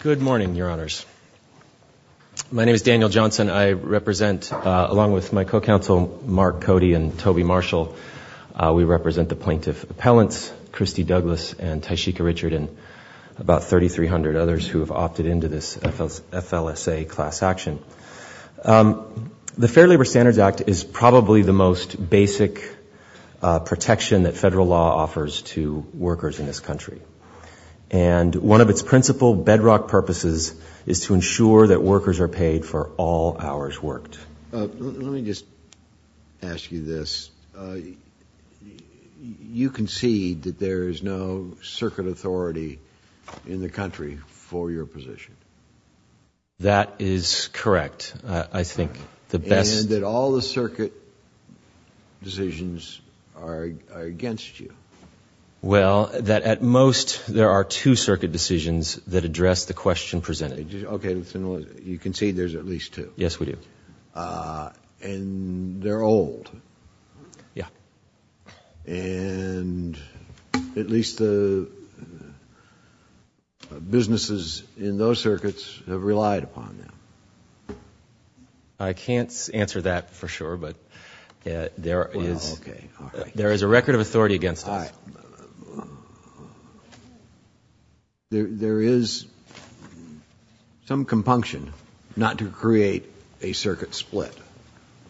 Good morning, your honors. My name is Daniel Johnson. I represent, along with my co-counsel Mark Cody and Toby Marshall, we represent the plaintiff appellants Christy Douglas and Tashika Richard and about 3,300 others who have opted into this FLSA class action. The Fair Labor Standards Act is probably the most basic protection that federal law offers to workers in this country. And one of its principal bedrock purposes is to ensure that workers are paid for all hours worked. Let me just ask you this. You concede that there is no circuit authority in the country for your position. That is correct. I think the best... And that all the circuit decisions are against you. Well, that at most there are two circuit decisions that address the question presented. Okay, you concede there's at least two. Yes, we do. And they're old. Yeah. And at least the businesses in those circuits have relied upon them. I can't answer that for sure, but there is a record of authority against us. There is some compunction not to create a circuit split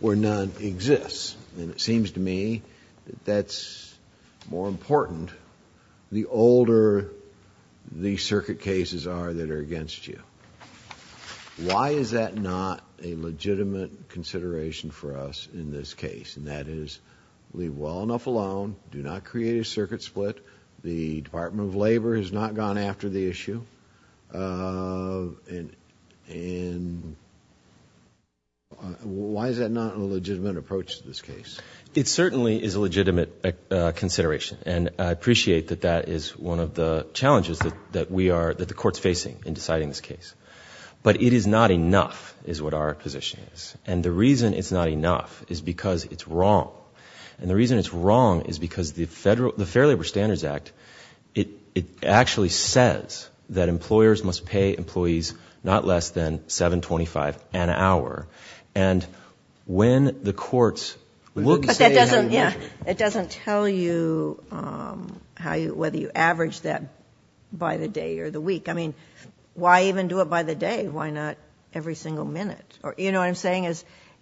where none exists. And it seems to me that that's more important the older the circuit cases are that are against you. Why is that not a legitimate consideration for us in this case? And that is leave well enough alone. Do not create a circuit split. The Department of Labor has not gone after the issue. And why is that not a legitimate approach to this case? It certainly is a legitimate consideration. And I appreciate that that is one of the challenges that the court's facing in deciding this case. But it is not enough, is what our position is. And the reason it's not enough is because it's wrong. And the reason it's wrong is because the Fair Labor Standards Act, it actually says that employers must pay employees not less than $7.25 an hour. And when the courts look and say how you measure it. But that doesn't tell you whether you average that by the day or the week. I mean, why even do it by the day? Why not every single minute? You know what I'm saying?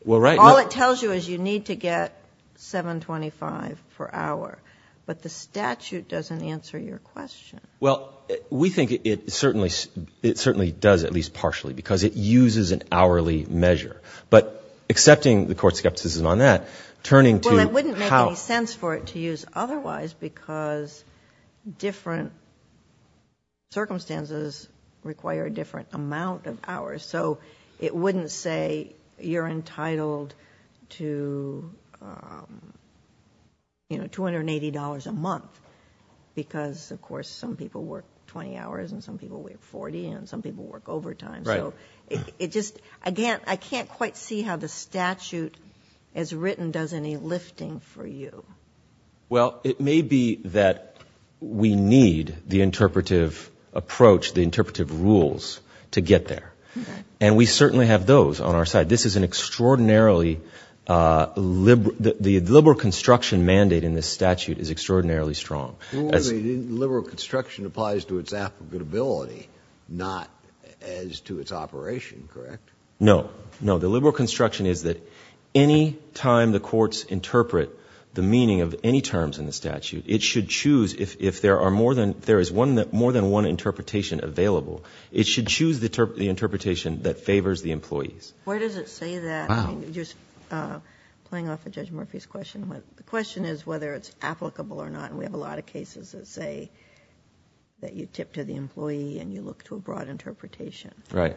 All it tells you is you need to get $7.25 per hour. But the statute doesn't answer your question. Well, we think it certainly does, at least partially, because it uses an hourly measure. But accepting the court's skepticism on that, turning to how. Well, it wouldn't make any sense for it to use otherwise because different circumstances require a different amount of hours. So it wouldn't say you're entitled to, you know, $280 a month because, of course, some people work 20 hours and some people work 40 and some people work overtime. Right. So it just, again, I can't quite see how the statute as written does any lifting for you. Well, it may be that we need the interpretive approach, the interpretive rules to get there. And we certainly have those on our side. This is an extraordinarily, the liberal construction mandate in this statute is extraordinarily strong. Well, the liberal construction applies to its applicability, not as to its operation, correct? No. No. The liberal construction is that any time the courts interpret the meaning of any terms in the statute, it should choose, if there are more than, if there is more than one interpretation available, it should choose the interpretation that favors the employees. Where does it say that? I mean, just playing off of Judge Murphy's question, the question is whether it's applicable or not. And we have a lot of cases that say that you tip to the employee and you look to a broad interpretation. Right.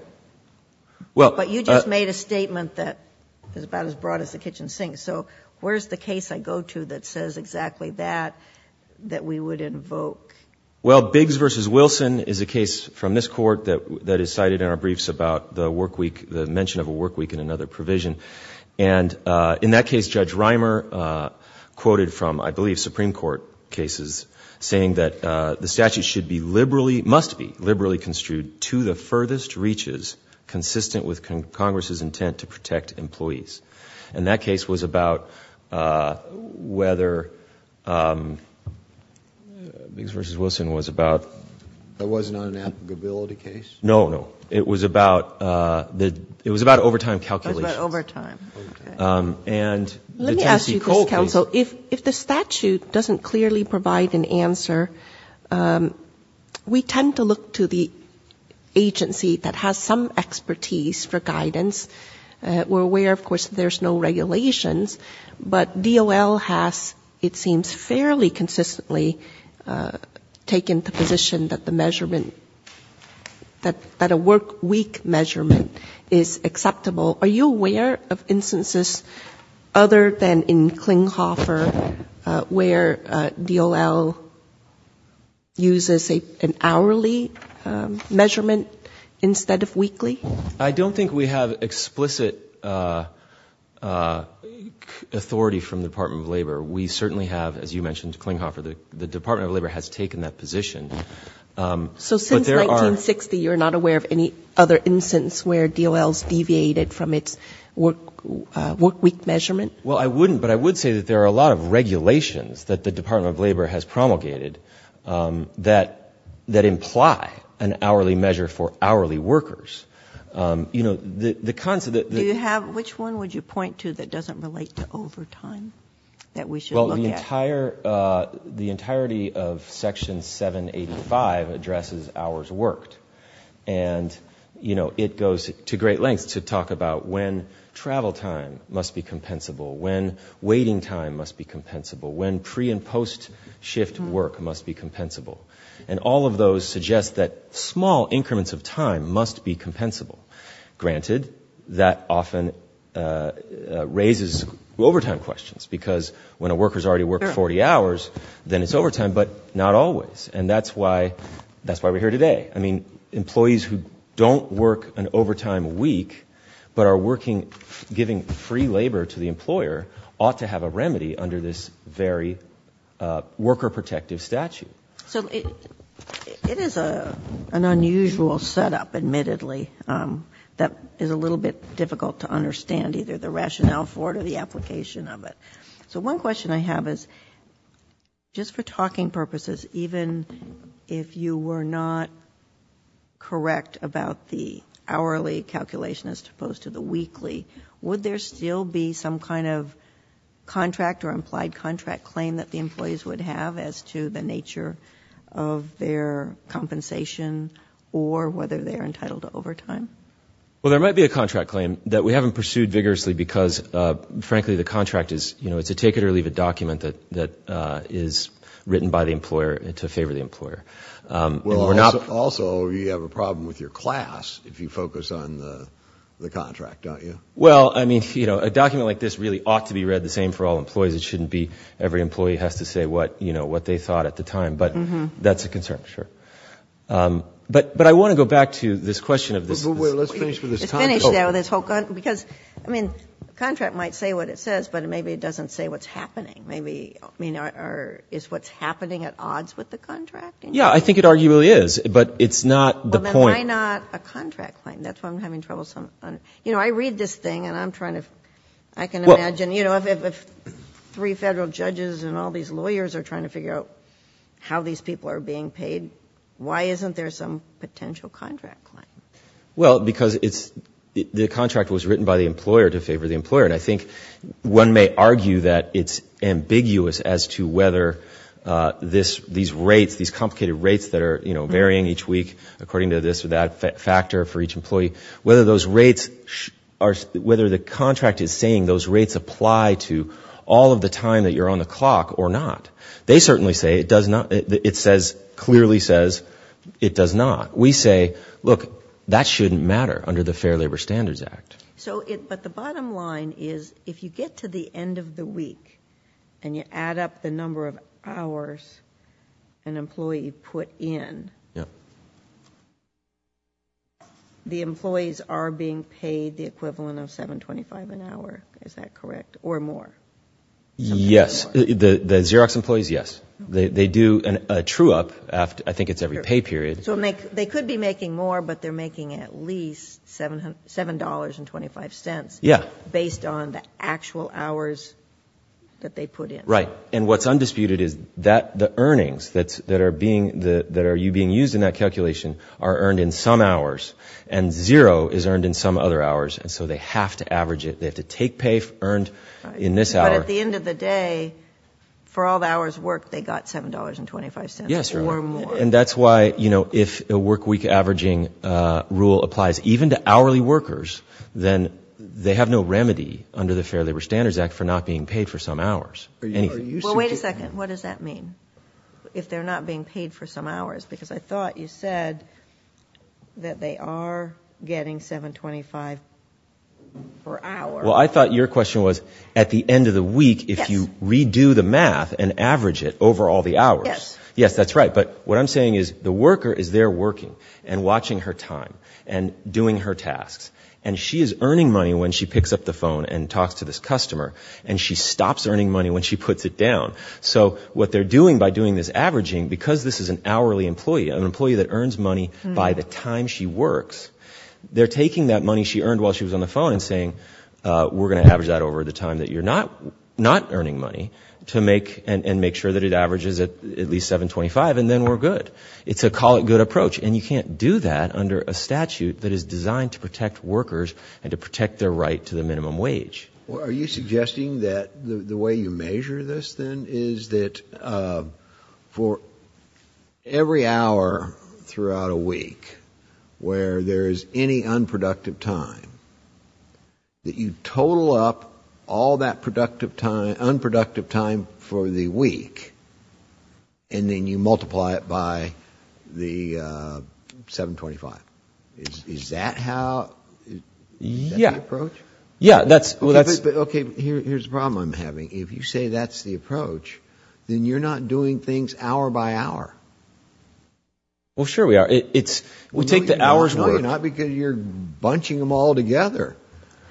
But you just made a statement that is about as broad as the kitchen sink. So where is the case I go to that says exactly that, that we would invoke? Well, Biggs v. Wilson is a case from this Court that is cited in our briefs about the work week, the mention of a work week in another provision. And in that case, Judge Reimer quoted from, I believe, Supreme Court cases saying that the statute should be liberally, must be liberally construed to the furthest reaches consistent with Congress's intent to protect employees. And that case was about whether, Biggs v. Wilson was about. That was not an applicability case? No, no. It was about, it was about overtime calculations. It was about overtime. Okay. And the Tennessee Coal case. Let me ask you, Mr. Counsel, if the statute doesn't clearly provide an answer, we tend to look to the agency that has some expertise for guidance. We're aware, of course, there's no regulations, but DOL has, it seems, fairly consistently taken the position that the measurement, that a work week measurement is acceptable. Are you aware of instances other than in Klinghoffer where DOL uses an hourly measurement instead of weekly? I don't think we have explicit authority from the Department of Labor. We certainly have, as you mentioned, Klinghoffer. The Department of Labor has taken that position. So since 1960, you're not aware of any other instance where DOL has deviated from its work week measurement? Well, I wouldn't, but I would say that there are a lot of regulations that the Department of Labor has promulgated that imply an hourly measure for hourly workers. Do you have, which one would you point to that doesn't relate to overtime, that we should look at? The entirety of Section 785 addresses hours worked, and it goes to great lengths to talk about when travel time must be compensable, when waiting time must be compensable, when pre- and post-shift work must be compensable. And all of those suggest that small increments of time must be compensable. Granted, that often raises overtime questions, because when a worker's already worked 40 hours, then it's overtime, but not always. And that's why we're here today. Employees who don't work an overtime week but are giving free labor to the employer ought to have a remedy under this very worker-protective statute. So it is an unusual setup, admittedly, that is a little bit difficult to understand, either the rationale for it or the application of it. So one question I have is, just for talking purposes, even if you were not correct about the hourly calculation as opposed to the weekly, would there still be some kind of contract or implied contract claim that the employees would have as to the nature of their compensation or whether they're entitled to overtime? Well, there might be a contract claim that we haven't pursued vigorously because, frankly, the contract is, you know, it's a take-it-or-leave-it document that is written by the employer to favor the employer. Also, you have a problem with your class if you focus on the contract, don't you? Well, I mean, you know, a document like this really ought to be read the same way for all employees. It shouldn't be every employee has to say what, you know, what they thought at the time. But that's a concern, sure. But I want to go back to this question of this. Wait, let's finish with this. Finish there with this whole, because, I mean, the contract might say what it says, but maybe it doesn't say what's happening. Maybe, I mean, is what's happening at odds with the contract? Yeah, I think it arguably is, but it's not the point. Well, then why not a contract claim? That's why I'm having trouble. You know, I read this thing and I'm trying to, I can imagine, you know, if the three federal judges and all these lawyers are trying to figure out how these people are being paid, why isn't there some potential contract claim? Well, because it's, the contract was written by the employer to favor the employer. And I think one may argue that it's ambiguous as to whether these rates, these complicated rates that are, you know, varying each week according to this or that factor for each employee, whether those rates are, whether the contract is saying those rates apply to all of the time that you're on the clock or not. They certainly say it does not, it says, clearly says it does not. We say, look, that shouldn't matter under the Fair Labor Standards Act. So, but the bottom line is if you get to the end of the week and you add up the number of hours an employee put in, the employees are being paid the equivalent of $7.25 an hour. Is that correct? Or more? Yes. The Xerox employees, yes. They do a true-up after, I think it's every pay period. So they could be making more, but they're making at least $7.25. Yeah. Based on the actual hours that they put in. Right. And what's undisputed is that the earnings that are being, that are you being used in that calculation are earned in some hours and zero is earned in some other hours. And so they have to average it. They have to take pay earned in this hour. Right. But at the end of the day, for all the hours worked, they got $7.25 or more. Yes. And that's why, you know, if a workweek averaging rule applies even to hourly workers, then they have no remedy under the Fair Labor Standards Act for not being paid for some hours. Well, wait a second. What does that mean? If they're not being paid for some hours? Because I thought you said that they are getting $7.25 per hour. Well, I thought your question was at the end of the week, if you redo the math and average it over all the hours. Yes. Yes, that's right. But what I'm saying is the worker is there working and watching her time and doing her tasks, and she is earning money when she picks up the phone and talks to this customer, and she stops earning money when she puts it down. So what they're doing by doing this averaging, because this is an hourly employee, an employee that earns money by the time she works, they're taking that money she earned while she was on the phone and saying, we're going to average that over the time that you're not earning money and make sure that it averages at least $7.25, and then we're good. It's a call it good approach. And you can't do that under a statute that is designed to protect workers and to protect their right to the minimum wage. Well, are you suggesting that the way you measure this, then, is that for every hour throughout a week where there is any unproductive time, that you total up all that unproductive time for the week, and then you multiply it by the $7.25? Is that the approach? Yeah. Okay, here's the problem I'm having. If you say that's the approach, then you're not doing things hour by hour. Well, sure we are. We take the hours worked. No, you're not, because you're bunching them all together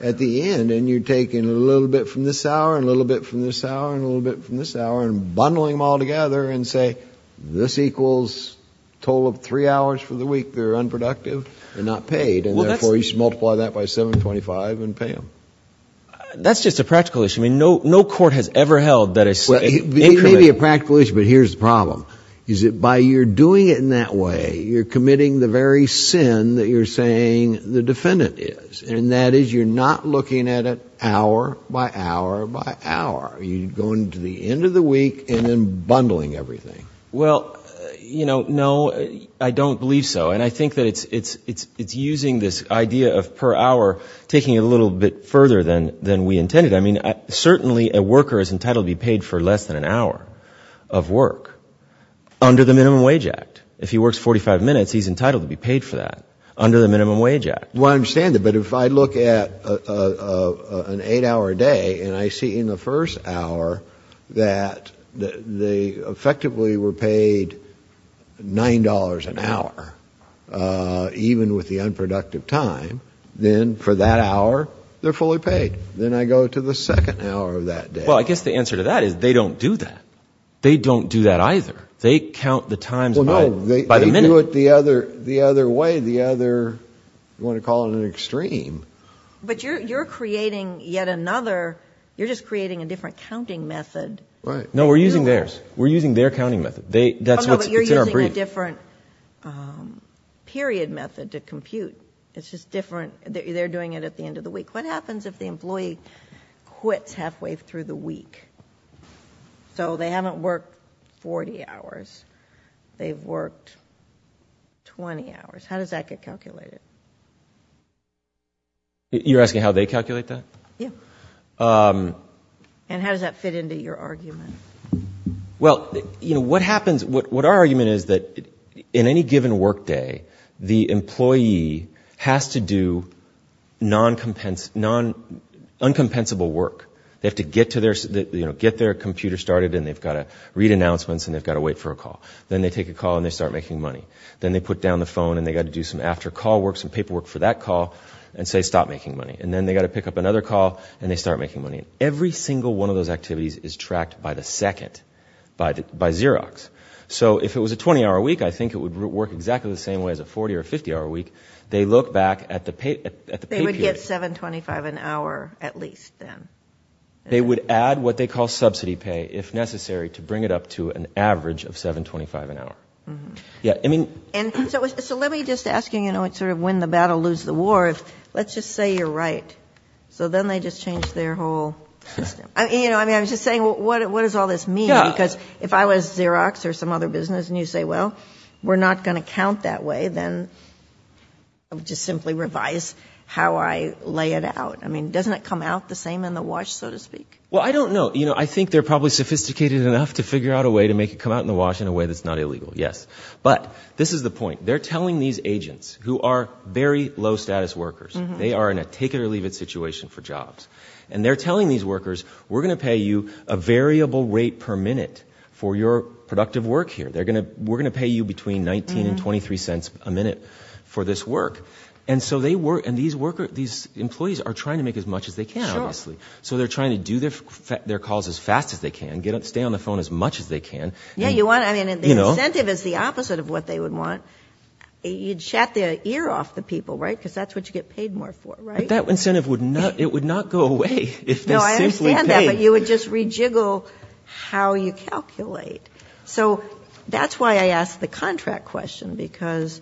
at the end, and you're taking a little bit from this hour and a little bit from this hour and a little bit from this hour and bundling them all together and say, this equals total of three hours for the week that are unproductive. They're not paid. And, therefore, you should multiply that by $7.25 and pay them. That's just a practical issue. I mean, no court has ever held that it's incriminating. It may be a practical issue, but here's the problem. Is it by you're doing it in that way, you're committing the very sin that you're saying the defendant is, and that is you're not looking at it hour by hour by hour. You're going to the end of the week and then bundling everything. Well, you know, no, I don't believe so. And I think that it's using this idea of per hour, taking it a little bit further than we intended. I mean, certainly a worker is entitled to be paid for less than an hour of work under the Minimum Wage Act. If he works 45 minutes, he's entitled to be paid for that under the Minimum Wage Act. Well, I understand that. But if I look at an eight-hour day and I see in the first hour that they effectively were paid $9 an hour, even with the unproductive time, then for that hour, they're fully paid. Then I go to the second hour of that day. Well, I guess the answer to that is they don't do that. They don't do that either. They count the times by the minute. Well, no, they do it the other way, the other, you want to call it an extreme. But you're creating yet another, you're just creating a different counting method. Right. No, we're using theirs. We're using their counting method. That's what's in our brief. Okay, but you're using a different period method to compute. It's just different. They're doing it at the end of the week. What happens if the employee quits halfway through the week? So they haven't worked 40 hours. They've worked 20 hours. How does that get calculated? You're asking how they calculate that? Yeah. And how does that fit into your argument? Well, what happens, what our argument is that in any given work day, the employee has to do uncompensable work. They have to get their computer started, and they've got to read announcements, and they've got to wait for a call. Then they take a call, and they start making money. Then they put down the phone, and they've got to do some after-call work, some paperwork for that call, and say, stop making money. And then they've got to pick up another call, and they start making money. Every single one of those activities is tracked by the second, by Xerox. So if it was a 20-hour week, I think it would work exactly the same way as a 40- or 50-hour week. They look back at the pay period. They would get $7.25 an hour at least then. They would add what they call subsidy pay, if necessary, to bring it up to an average of $7.25 an hour. So let me just ask you, sort of when the battle lose the war, let's just say you're right. So then they just change their whole system. I was just saying, what does all this mean? Because if I was Xerox or some other business, and you say, well, we're not going to count that way, then just simply revise how I lay it out. I mean, doesn't it come out the same in the wash, so to speak? Well, I don't know. I think they're probably sophisticated enough to figure out a way to make it come out in the wash in a way that's not illegal, yes. But this is the point. They're telling these agents, who are very low-status workers, they are in a take-it-or-leave-it situation for jobs, and they're telling these workers, we're going to pay you a variable rate per minute for your productive work here. We're going to pay you between $0.19 and $0.23 a minute for this work. And these employees are trying to make as much as they can, obviously. So they're trying to do their calls as fast as they can, stay on the phone as much as they can. The incentive is the opposite of what they would want. You'd shat the ear off the people, right, because that's what you get paid more for, right? But that incentive would not go away if they simply paid. No, I understand that. But you would just rejiggle how you calculate. So that's why I asked the contract question, because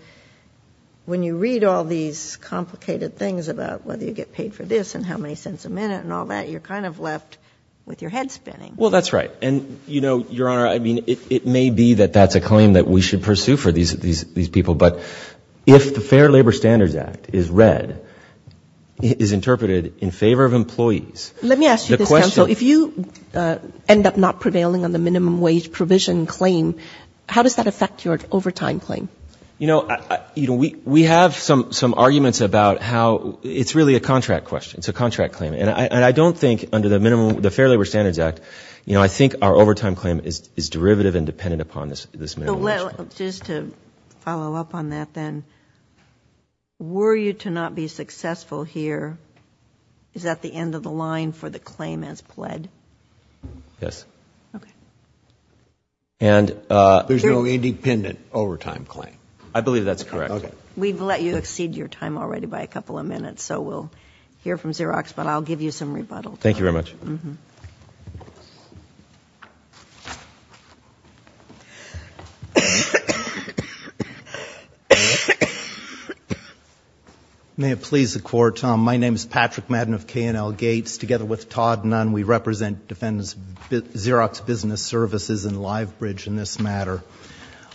when you read all these complicated things about whether you get paid for this and how many cents a minute and all that, you're kind of left with your head spinning. Well, that's right. And, you know, Your Honor, I mean, it may be that that's a claim that we should pursue for these people. But if the Fair Labor Standards Act is read, is interpreted in favor of employees. Let me ask you this, counsel. If you end up not prevailing on the minimum wage provision claim, how does that affect your overtime claim? You know, we have some arguments about how it's really a contract question. It's a contract claim. And I don't think under the minimum, the Fair Labor Standards Act, you know, I think our overtime claim is derivative and dependent upon this minimum wage claim. Just to follow up on that then, were you to not be successful here, is that the end of the line for the claim as pled? Yes. Okay. There's no independent overtime claim. I believe that's correct. Okay. We've let you exceed your time already by a couple of minutes, so we'll hear from Xerox, but I'll give you some rebuttal time. Thank you very much. May it please the Court. My name is Patrick Madden of K&L Gates. Together with Todd Nunn, we represent Xerox Business Services and Livebridge in this matter.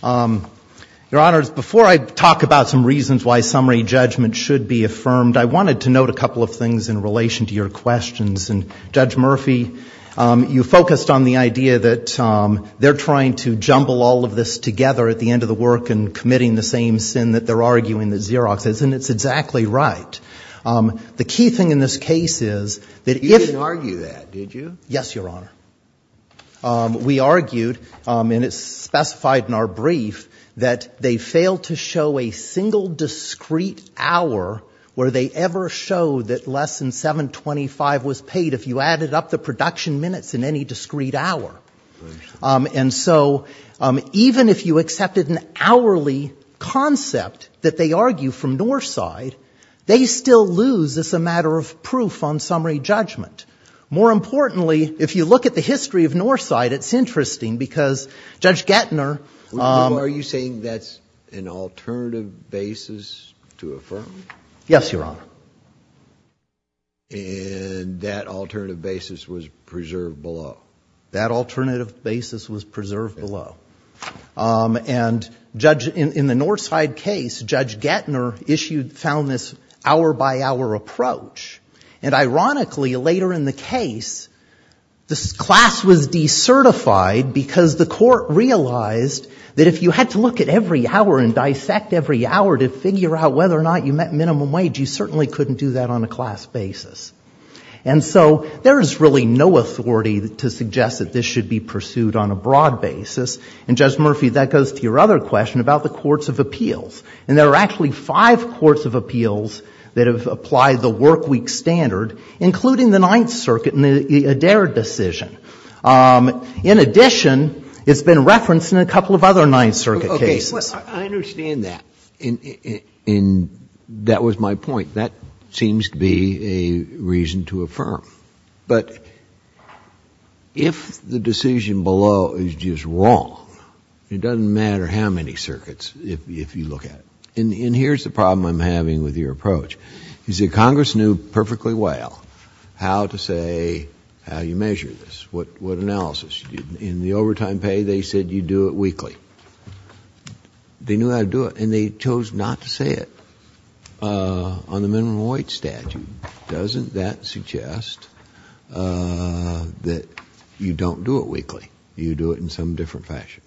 Your Honors, before I talk about some reasons why summary judgment should be affirmed, I wanted to note a couple of things in relation to your questions. And Judge Murphy, you focused on the idea that they're trying to jumble all of this together at the end of the work and committing the same sin that they're arguing that Xerox is, and it's exactly right. The key thing in this case is that if you argue that, did you? Yes, Your Honor. We argued, and it's specified in our brief, that they failed to show a single discreet hour where they ever showed that less than 7.25 was paid, if you added up the production minutes in any discreet hour. And so even if you accepted an hourly concept that they argue from Northside, they still lose as a matter of proof on summary judgment. More importantly, if you look at the history of Northside, it's interesting because Judge Gettner Are you saying that's an alternative basis to affirm? Yes, Your Honor. And that alternative basis was preserved below? That alternative basis was preserved below. And Judge, in the Northside case, Judge Gettner issued, found this hour-by-hour approach. And ironically, later in the case, this class was decertified because the court realized that if you had to look at every hour and dissect every hour to figure out whether or not you met minimum wage, you certainly couldn't do that on a class basis. And so there is really no authority to suggest that this should be pursued on a broad basis. And, Judge Murphy, that goes to your other question about the courts of appeals. And there are actually five courts of appeals that have applied the workweek standard, including the Ninth Circuit in the Adair decision. In addition, it's been referenced in a couple of other Ninth Circuit cases. Okay. I understand that. And that was my point. That seems to be a reason to affirm. But if the decision below is just wrong, it doesn't matter how many circuits, if you look at it. And here's the problem I'm having with your approach. You see, Congress knew perfectly well how to say how you measure this, what analysis. In the overtime pay, they said you do it weekly. They knew how to do it, and they chose not to say it on the minimum wage statute. Doesn't that suggest that you don't do it weekly? You do it in some different fashion.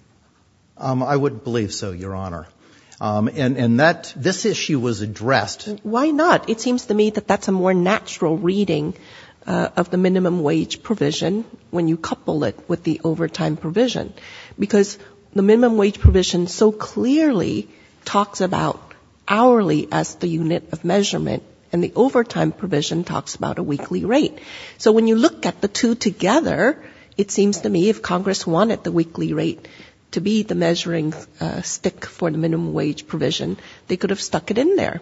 I would believe so, Your Honor. And this issue was addressed. Why not? It seems to me that that's a more natural reading of the minimum wage provision when you couple it with the overtime provision. Because the minimum wage provision so clearly talks about hourly as the unit of measurement, and the overtime provision talks about a weekly rate. So when you look at the two together, it seems to me if Congress wanted the weekly rate to be the measuring stick for the minimum wage provision, they could have stuck it in there.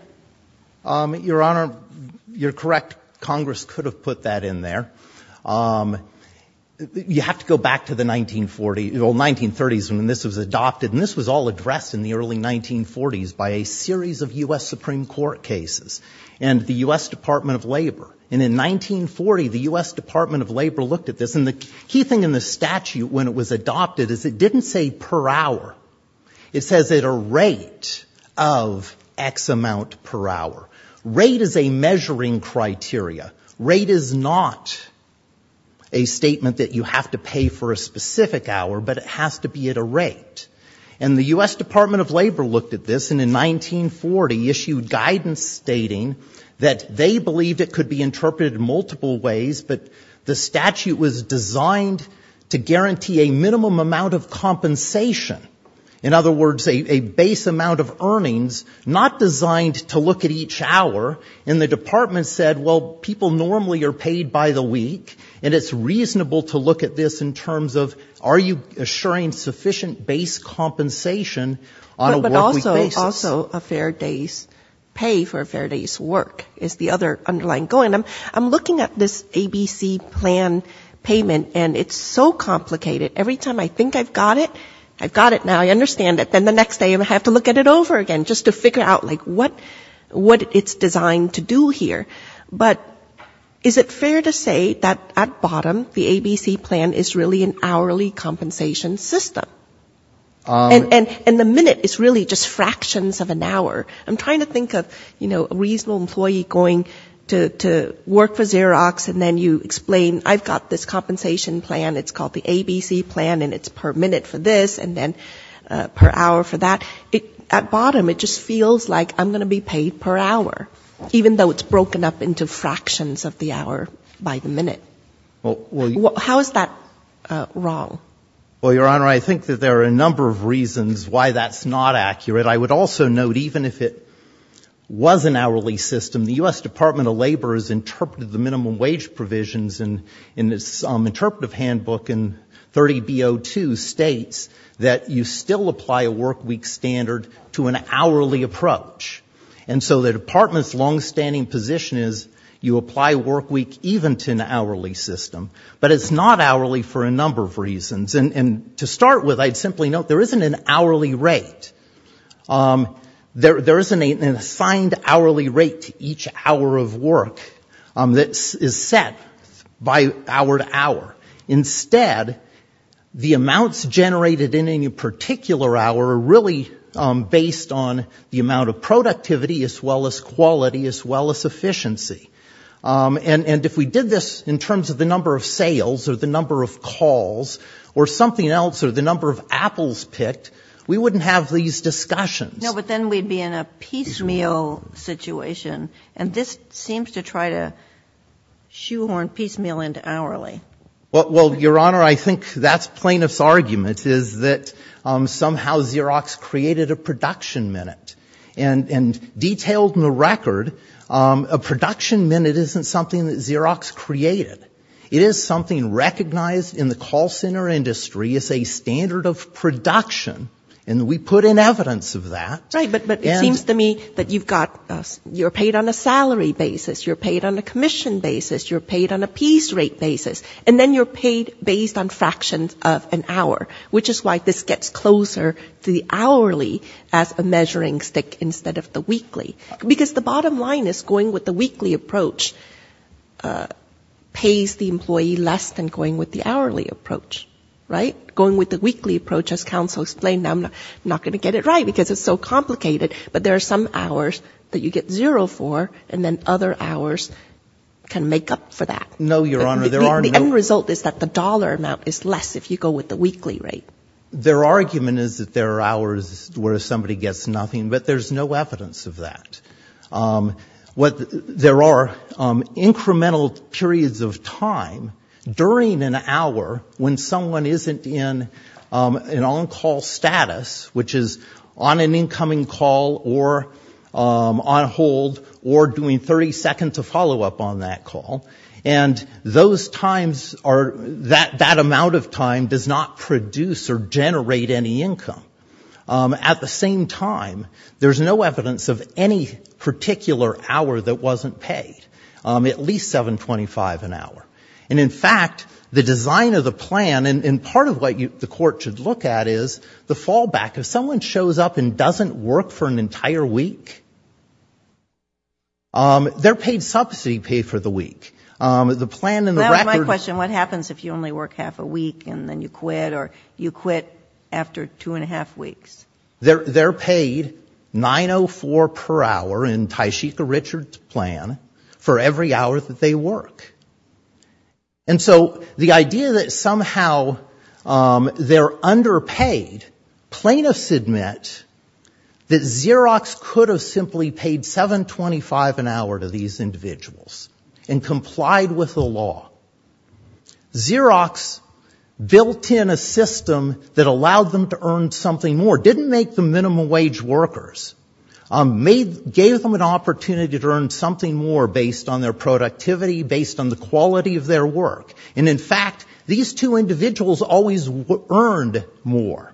Your Honor, you're correct. Congress could have put that in there. You have to go back to the 1940s, the 1930s when this was adopted. And this was all addressed in the early 1940s by a series of U.S. Supreme Court cases. And the U.S. Department of Labor. And in 1940, the U.S. Department of Labor looked at this. And the key thing in the statute when it was adopted is it didn't say per hour. It says at a rate of X amount per hour. Rate is a measuring criteria. Rate is not a statement that you have to pay for a specific hour, but it has to be at a rate. And the U.S. Department of Labor looked at this, and in 1940 issued guidance stating that they believed it could be interpreted in multiple ways, but the statute was designed to guarantee a minimum amount of compensation. In other words, a base amount of earnings not designed to look at each hour. And the department said, well, people normally are paid by the week, and it's reasonable to look at this in terms of are you assuring sufficient base compensation on a workweek basis. But also a fair day's pay for a fair day's work is the other underlying goal. And I'm looking at this ABC plan payment, and it's so complicated. Every time I think I've got it, I've got it now. I understand it. Then the next day I have to look at it over again just to figure out, like, what it's designed to do here. But is it fair to say that at bottom the ABC plan is really an hourly compensation system? And the minute is really just fractions of an hour. I'm trying to think of, you know, a reasonable employee going to work for Xerox, and then you explain I've got this compensation plan, it's called the ABC plan, and it's per minute for this, and then per hour for that. At bottom it just feels like I'm going to be paid per hour, even though it's broken up into fractions of the hour by the minute. How is that wrong? Well, Your Honor, I think that there are a number of reasons why that's not accurate. I would also note even if it was an hourly system, the U.S. Department of Labor has interpreted the minimum wage provisions in this interpretive handbook in 30B02 states that you still apply a workweek standard to an hourly approach. And so the department's longstanding position is you apply workweek even to an hourly system. But it's not hourly for a number of reasons. And to start with, I'd simply note there isn't an hourly rate. There isn't an assigned hourly rate to each hour of work that is set by hour to hour. Instead, the amounts generated in any particular hour are really based on the amount of productivity as well as quality as well as efficiency. And if we did this in terms of the number of sales or the number of calls or something else or the number of apples picked, we wouldn't have these discussions. No, but then we'd be in a piecemeal situation, and this seems to try to shoehorn piecemeal into hourly. Well, Your Honor, I think that's plaintiff's argument, is that somehow Xerox created a production minute. And detailed in the record, a production minute isn't something that Xerox created. It is something recognized in the call center industry as a standard of production, and we put in evidence of that. Right, but it seems to me that you're paid on a salary basis, you're paid on a commission basis, you're paid on a piece rate basis, and then you're paid based on fractions of an hour, which is why this gets closer to the hourly as a measuring stick instead of the weekly. Because the bottom line is going with the weekly approach pays the employee less than going with the hourly approach, right? Going with the weekly approach, as counsel explained, I'm not going to get it right because it's so complicated, but there are some hours that you get zero for, and then other hours can make up for that. No, Your Honor, there are no... The end result is that the dollar amount is less if you go with the weekly rate. Their argument is that there are hours where somebody gets nothing, but there's no evidence of that. There are incremental periods of time during an hour when someone isn't in an on-call status, which is on an incoming call or on hold or doing 30 seconds of follow-up on that call, and those times are, that amount of time does not produce or generate any income. At the same time, there's no evidence of any particular hour that wasn't paid, at least $7.25 an hour. And in fact, the design of the plan, and part of what the court should look at is the fallback. If someone shows up and doesn't work for an entire week, their paid subsidy paid for the week. The plan in the record... They're paid $9.04 per hour in Tysheka Richards' plan for every hour that they work. And so the idea that somehow they're underpaid, plaintiffs admit that Xerox could have simply paid $7.25 an hour to these individuals and complied with the law. Xerox built in a system that allowed them to earn something more. Didn't make them minimum wage workers. Gave them an opportunity to earn something more based on their productivity, based on the quality of their work. And in fact, these two individuals always earned more.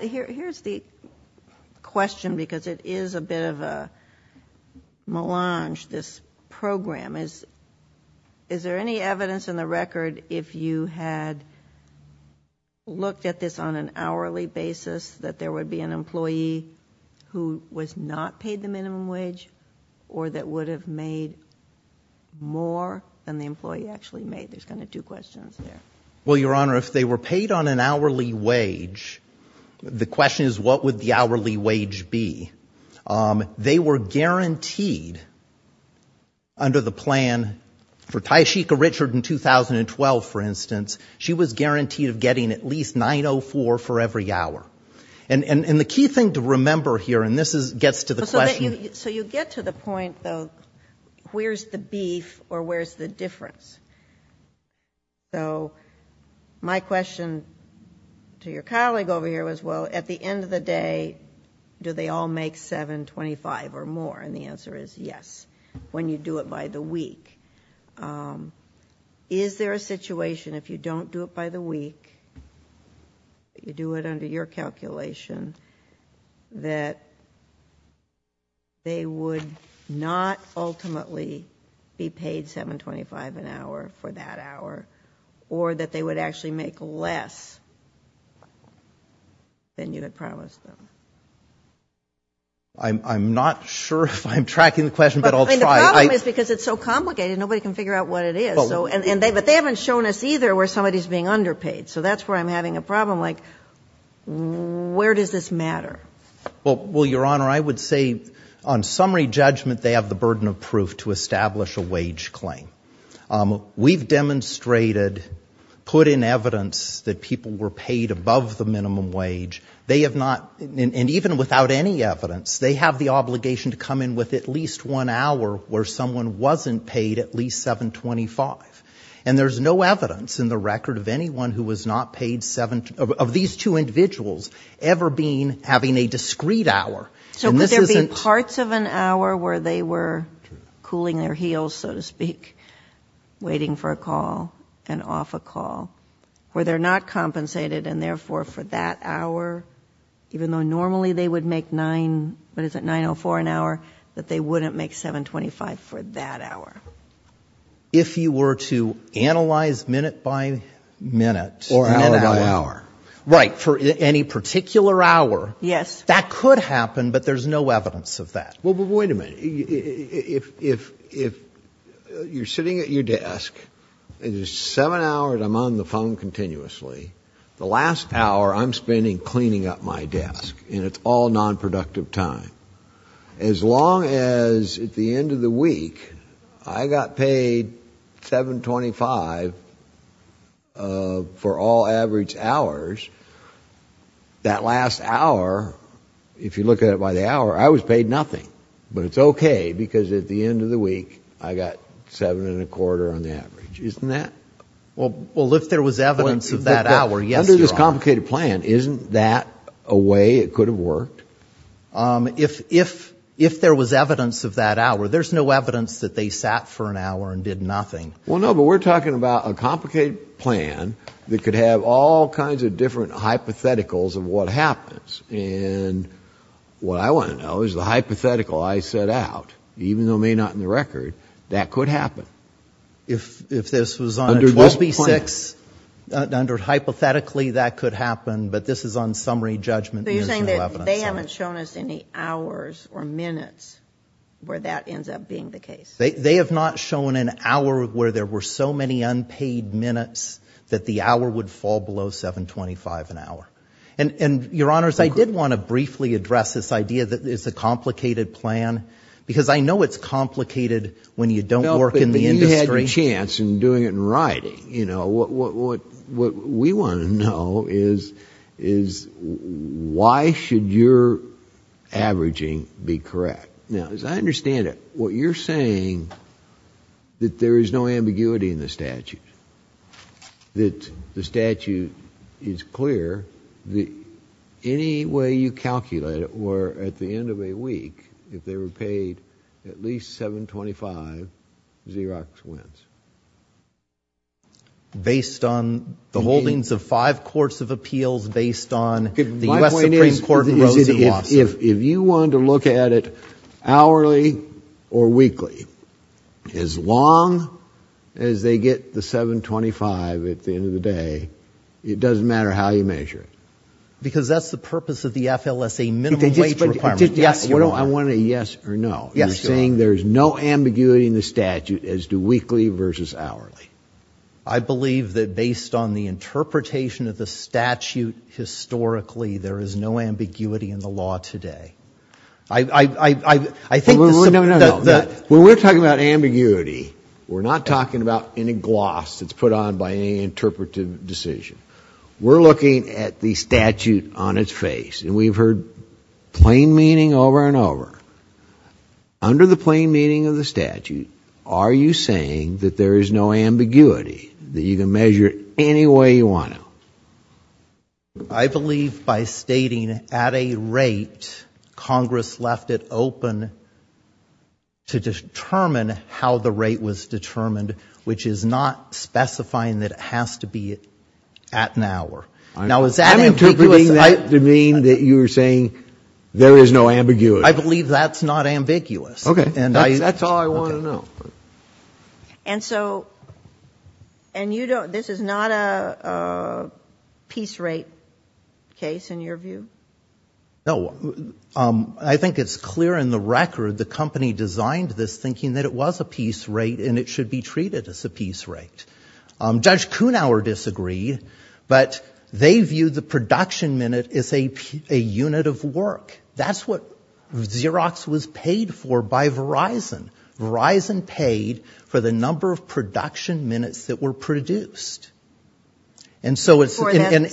Here's the question, because it is a bit of a melange, this program. Is there any evidence in the record, if you had looked at this on an hourly basis, that there would be an employee who was not paid the minimum wage or that would have made more than the employee actually made? There's kind of two questions there. Well, Your Honor, if they were paid on an hourly wage, the question is, what would the hourly wage be? They were guaranteed under the plan, for Tysheka Richards in 2012, for instance, she was guaranteed of getting at least $9.04 for every hour. And the key thing to remember here, and this gets to the question. So you get to the point, though, where's the beef or where's the difference? So my question to your colleague over here was, well, at the end of the day, do they all make money? Do they all make $7.25 or more? And the answer is yes, when you do it by the week. Is there a situation, if you don't do it by the week, you do it under your calculation, that they would not ultimately be paid $7.25 an hour for that hour, or that they would actually make less than you had promised them? I'm not sure if I'm tracking the question, but I'll try. But the problem is because it's so complicated, nobody can figure out what it is. But they haven't shown us either where somebody's being underpaid. So that's where I'm having a problem, like, where does this matter? Well, Your Honor, I would say on summary judgment, they have the burden of proof to establish a wage claim. We've demonstrated, put in evidence that people were paid above the minimum wage. They have not, and even without any evidence, they have the obligation to come in with at least one hour where someone wasn't paid at least $7.25. And there's no evidence in the record of anyone who was not paid, of these two individuals, ever being, having a discrete hour. So could there be parts of an hour where they were cooling their heels, so to speak, waiting for a call, and off a call, where they're not compensated, and therefore for that hour, even though normally they would make 9, what is it, $9.04 an hour, that they wouldn't make $7.25 for that hour? If you were to analyze minute by minute... Or hour by hour. Right, for any particular hour, that could happen, but there's no evidence of that. Well, but wait a minute. If you're sitting at your desk, it is seven hours I'm on the phone continuously, the last hour I'm spending cleaning up my desk, and it's all nonproductive time. As long as at the end of the week I got paid $7.25 for all average hours, that last hour, if you look at it by the hour, I was paid nothing. But it's okay, because at the end of the week I got $7.25 on the average. Isn't that... If there was evidence of that hour, there's no evidence that they sat for an hour and did nothing. Well, no, but we're talking about a complicated plan that could have all kinds of different hypotheticals of what happens. And what I want to know is the hypothetical I set out, even though it may not be in the record, that could happen. If this was on a 12B6, under hypothetically that could happen, but this is on summary judgment. So you're saying that they haven't shown us any hours or minutes where that ends up being the case? They have not shown an hour where there were so many unpaid minutes that the hour would fall below $7.25 an hour. And, Your Honors, I did want to briefly address this idea that it's a complicated plan, because I know it's complicated when you don't work in the industry. No, but you had your chance in doing it in writing. Why should your averaging be correct? Now, as I understand it, what you're saying that there is no ambiguity in the statute, that the statute is clear, that any way you calculate it, where at the end of a week, if they were paid at least $7.25, Xerox wins. Based on the holdings of five courts of appeals, based on the U.S. Supreme Court in Rosenthal. My point is, if you wanted to look at it hourly or weekly, as long as they get the $7.25 at the end of the day, it doesn't matter how you measure it. Because that's the purpose of the FLSA minimum wage requirement. I want a yes or no. I believe that based on the interpretation of the statute historically, there is no ambiguity in the law today. When we're talking about ambiguity, we're not talking about any gloss that's put on by any interpretive decision. We're looking at the statute on its face, and we've heard plain meaning over and over. Under the plain meaning of the statute, are you saying that there is no ambiguity, that you can measure it any way you want to? I believe by stating at a rate, Congress left it open to determine how the rate was determined, which is not specifying that it has to be at an hour. Now, is that ambiguous? I'm interpreting that to mean that you're saying there is no ambiguity. I believe that's not ambiguous. Okay. That's all I want to know. And so, and you don't, this is not a piece rate case in your view? No. I think it's clear in the record the company designed this thinking that it was a piece rate, and it should be treated as a piece rate. Judge Kuhnauer disagreed, but they viewed the production minute as a unit of work. That's what Xerox was paid for by Verizon. Verizon paid for the number of production minutes that were produced. And so it's 70,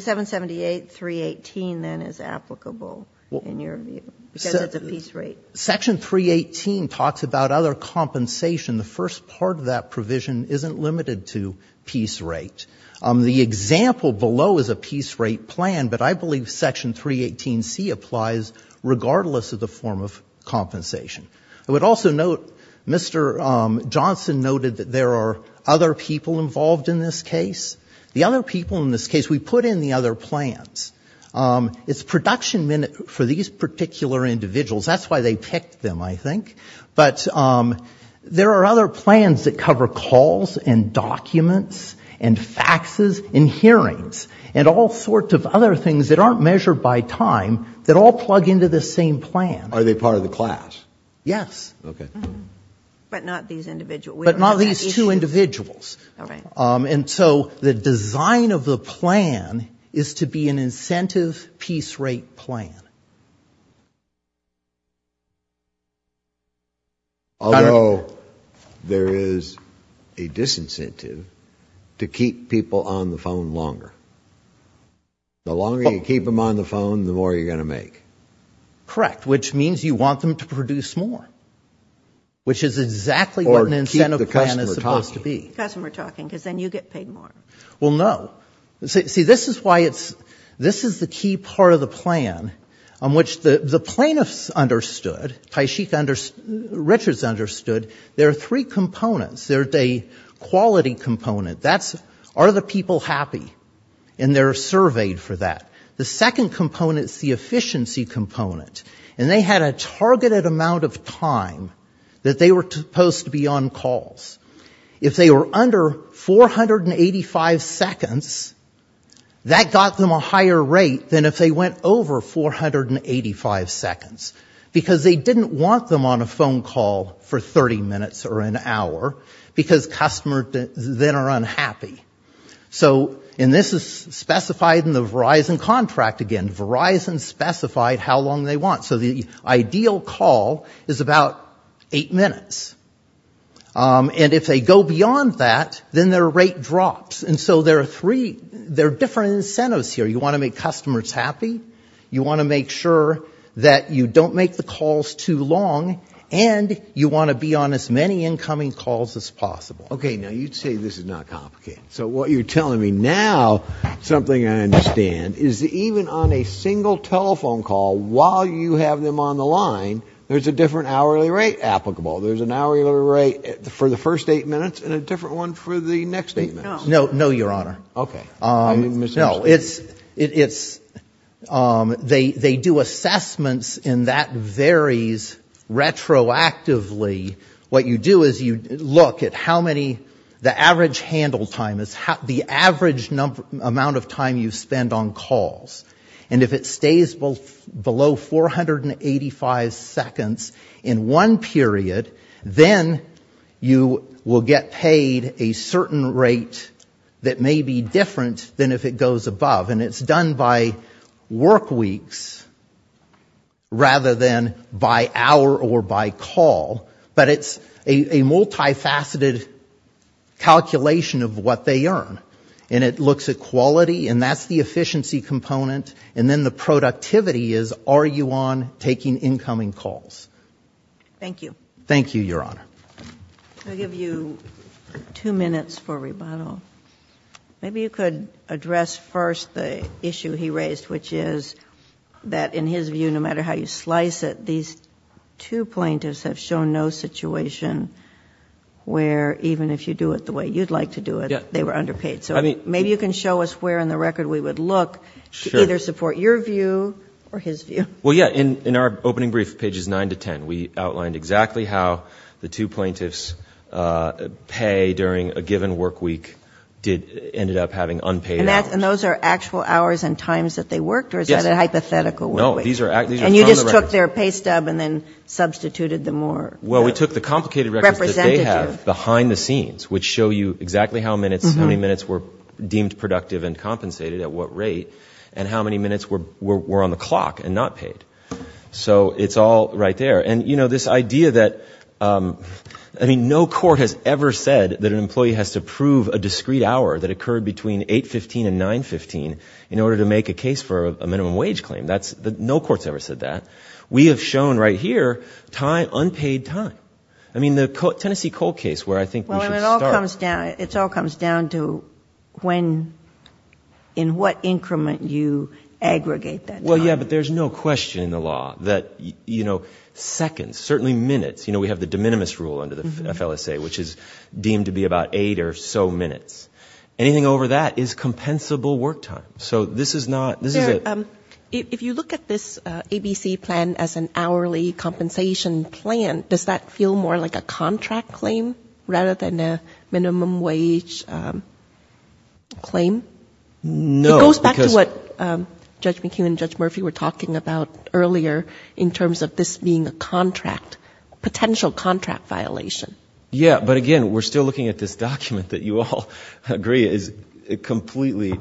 778, 318 then is applicable in your view, because it's a piece rate. Section 318 talks about other compensation. The first part of that provision isn't limited to piece rate. The example below is a piece rate plan, but I believe Section 318C applies regardless of the form of compensation. I would also note Mr. Johnson noted that there are other people involved in this case. The other people in this case, we put in the other plans. It's production minute for these particular individuals. That's why they picked them, I think. But there are other plans that cover calls and documents and faxes and hearings and all sorts of other things that aren't measured by time that all plug into the same plan. Are they part of the class? Yes. But not these two individuals. And so the design of the plan is to be an incentive piece rate plan. Although there is a disincentive to keep people on the phone longer. The longer you keep them on the phone, the more you're going to make. Correct. Which means you want them to produce more, which is exactly what an incentive plan is supposed to be. Or keep the customer talking. Customer talking, because then you get paid more. Well, no. See, this is why it's, this is the key part of the plan on which the plaintiffs understood, Taishik Richards understood, there are three components. There's a quality component. That's, are the people happy? And they're surveyed for that. The second component is the efficiency component. And they had a targeted amount of time that they were supposed to be on calls. If they were under 485 seconds, that got them a higher rate than if they went over 485 seconds. Because they didn't want them on a phone call for 30 minutes or an hour. Because customers then are unhappy. So, and this is specified in the Verizon contract again. Verizon specified how long they want. So the ideal call is about eight minutes. And if they go beyond that, then their rate drops. And so there are three, there are different incentives here. You want to make customers happy. You want to make sure that you don't make the calls too long. And you want to be on as many incoming calls as possible. Okay, now you say this is not complicated. So what you're telling me now, something I understand, is even on a single telephone call, while you have them on the line, there's a different hourly rate applicable. There's an hourly rate for the first eight minutes and a different one for the next eight minutes. No, no, Your Honor. Okay. No, it's, it's, they do assessments and that varies retroactively. What you do is you look at how many, the average handle time is, the average amount of time you spend on calls. And if it stays below 485 seconds in one period, then you will get paid a certain rate that may be different than if it goes above. And it's done by work weeks rather than by hour or by call. But it's a multifaceted calculation of what they earn. And it looks at quality and that's the efficiency component. And then the productivity is are you on taking incoming calls. Thank you. Thank you, Your Honor. I'll give you two minutes for rebuttal. Maybe you could address first the issue he raised, which is that in his view, no matter how you slice it, these two plaintiffs have shown no situation where even if you do it the way you'd like to do it, they were underpaid. So maybe you can show us where in the record we would look to either support your view or his view. Well, yeah. In our opening brief, pages 9 to 10, we outlined exactly how the two plaintiffs pay during a given work week ended up having unpaid hours. And those are actual hours and times that they worked? Yes. Or is that a hypothetical work week? No, these are from the record. And you just took their pay stub and then substituted the more representative? Well, we took the complicated records that they have behind the scenes, which show you exactly how many minutes were deemed productive and compensated at what rate and how many minutes were on the clock and not paid. So it's all right there. And, you know, this idea that, I mean, no court has ever said that an employee has to prove a discrete hour that occurred between 8.15 and 9.15 in order to make a case for a minimum wage claim. No court's ever said that. We have shown right here unpaid time. I mean, the Tennessee cold case where I think we should start. It all comes down to when, in what increment you aggregate that time. Well, yeah, but there's no question in the law that, you know, seconds, certainly minutes. You know, we have the de minimis rule under the FLSA, which is deemed to be about eight or so minutes. Anything over that is compensable work time. So this is not, this is a... claim? No. It goes back to what Judge McKeown and Judge Murphy were talking about earlier in terms of this being a contract, potential contract violation. Yeah, but again, we're still looking at this document that you all agree is completely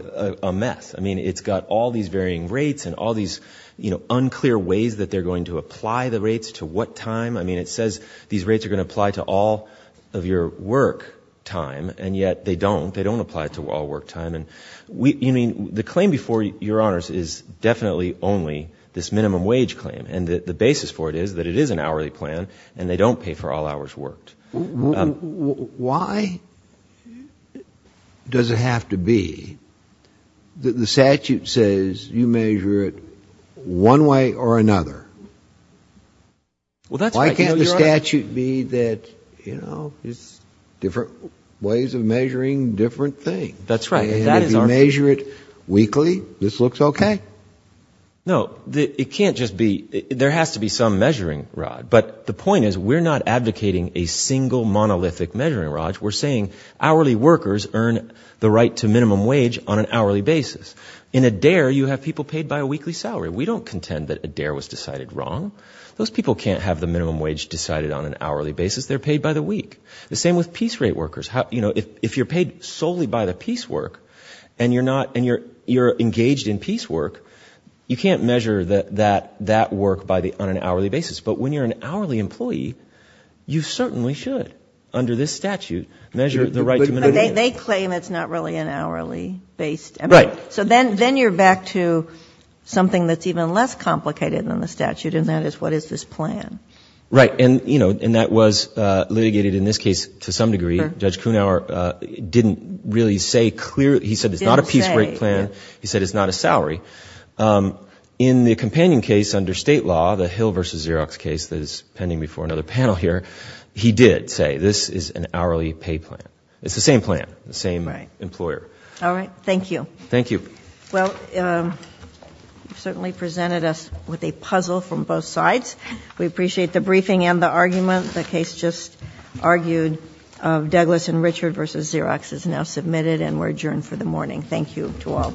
a mess. I mean, it's got all these varying rates and all these, you know, unclear ways that they're going to apply the rates to what time. I mean, it says these rates are going to apply to all of your work time, and yet they don't. They don't apply to all work time. And we, I mean, the claim before your honors is definitely only this minimum wage claim. And the basis for it is that it is an hourly plan and they don't pay for all hours worked. Why does it have to be that the statute says you measure it one way or another? Well, that's right. Why can't the statute be that, you know, it's different ways of measuring different things? That's right. And if you measure it weekly, this looks okay. No, it can't just be, there has to be some measuring rod. But the point is we're not advocating a single monolithic measuring rod. We're saying hourly workers earn the right to minimum wage on an hourly basis. In ADARE, you have people paid by a weekly salary. We don't contend that ADARE was decided wrong. Those people can't have the minimum wage decided on an hourly basis. They're paid by the week. The same with piece rate workers. You know, if you're paid solely by the piece work and you're engaged in piece work, you can't measure that work on an hourly basis. But when you're an hourly employee, you certainly should, under this statute, measure the right to minimum wage. They claim it's not really an hourly-based. Right. So then you're back to something that's even less complicated than the statute, and that is what is this plan? Right. And, you know, that was litigated in this case to some degree. Judge Kuhnhauer didn't really say clearly. He said it's not a piece rate plan. He said it's not a salary. In the companion case under state law, the Hill v. Xerox case that is pending before another panel here, he did say this is an hourly pay plan. It's the same plan, the same employer. All right. Thank you. Thank you. Well, you've certainly presented us with a puzzle from both sides. We appreciate the briefing and the argument. The case just argued of Douglas and Richard v. Xerox is now submitted and we're adjourned for the morning. Thank you to all.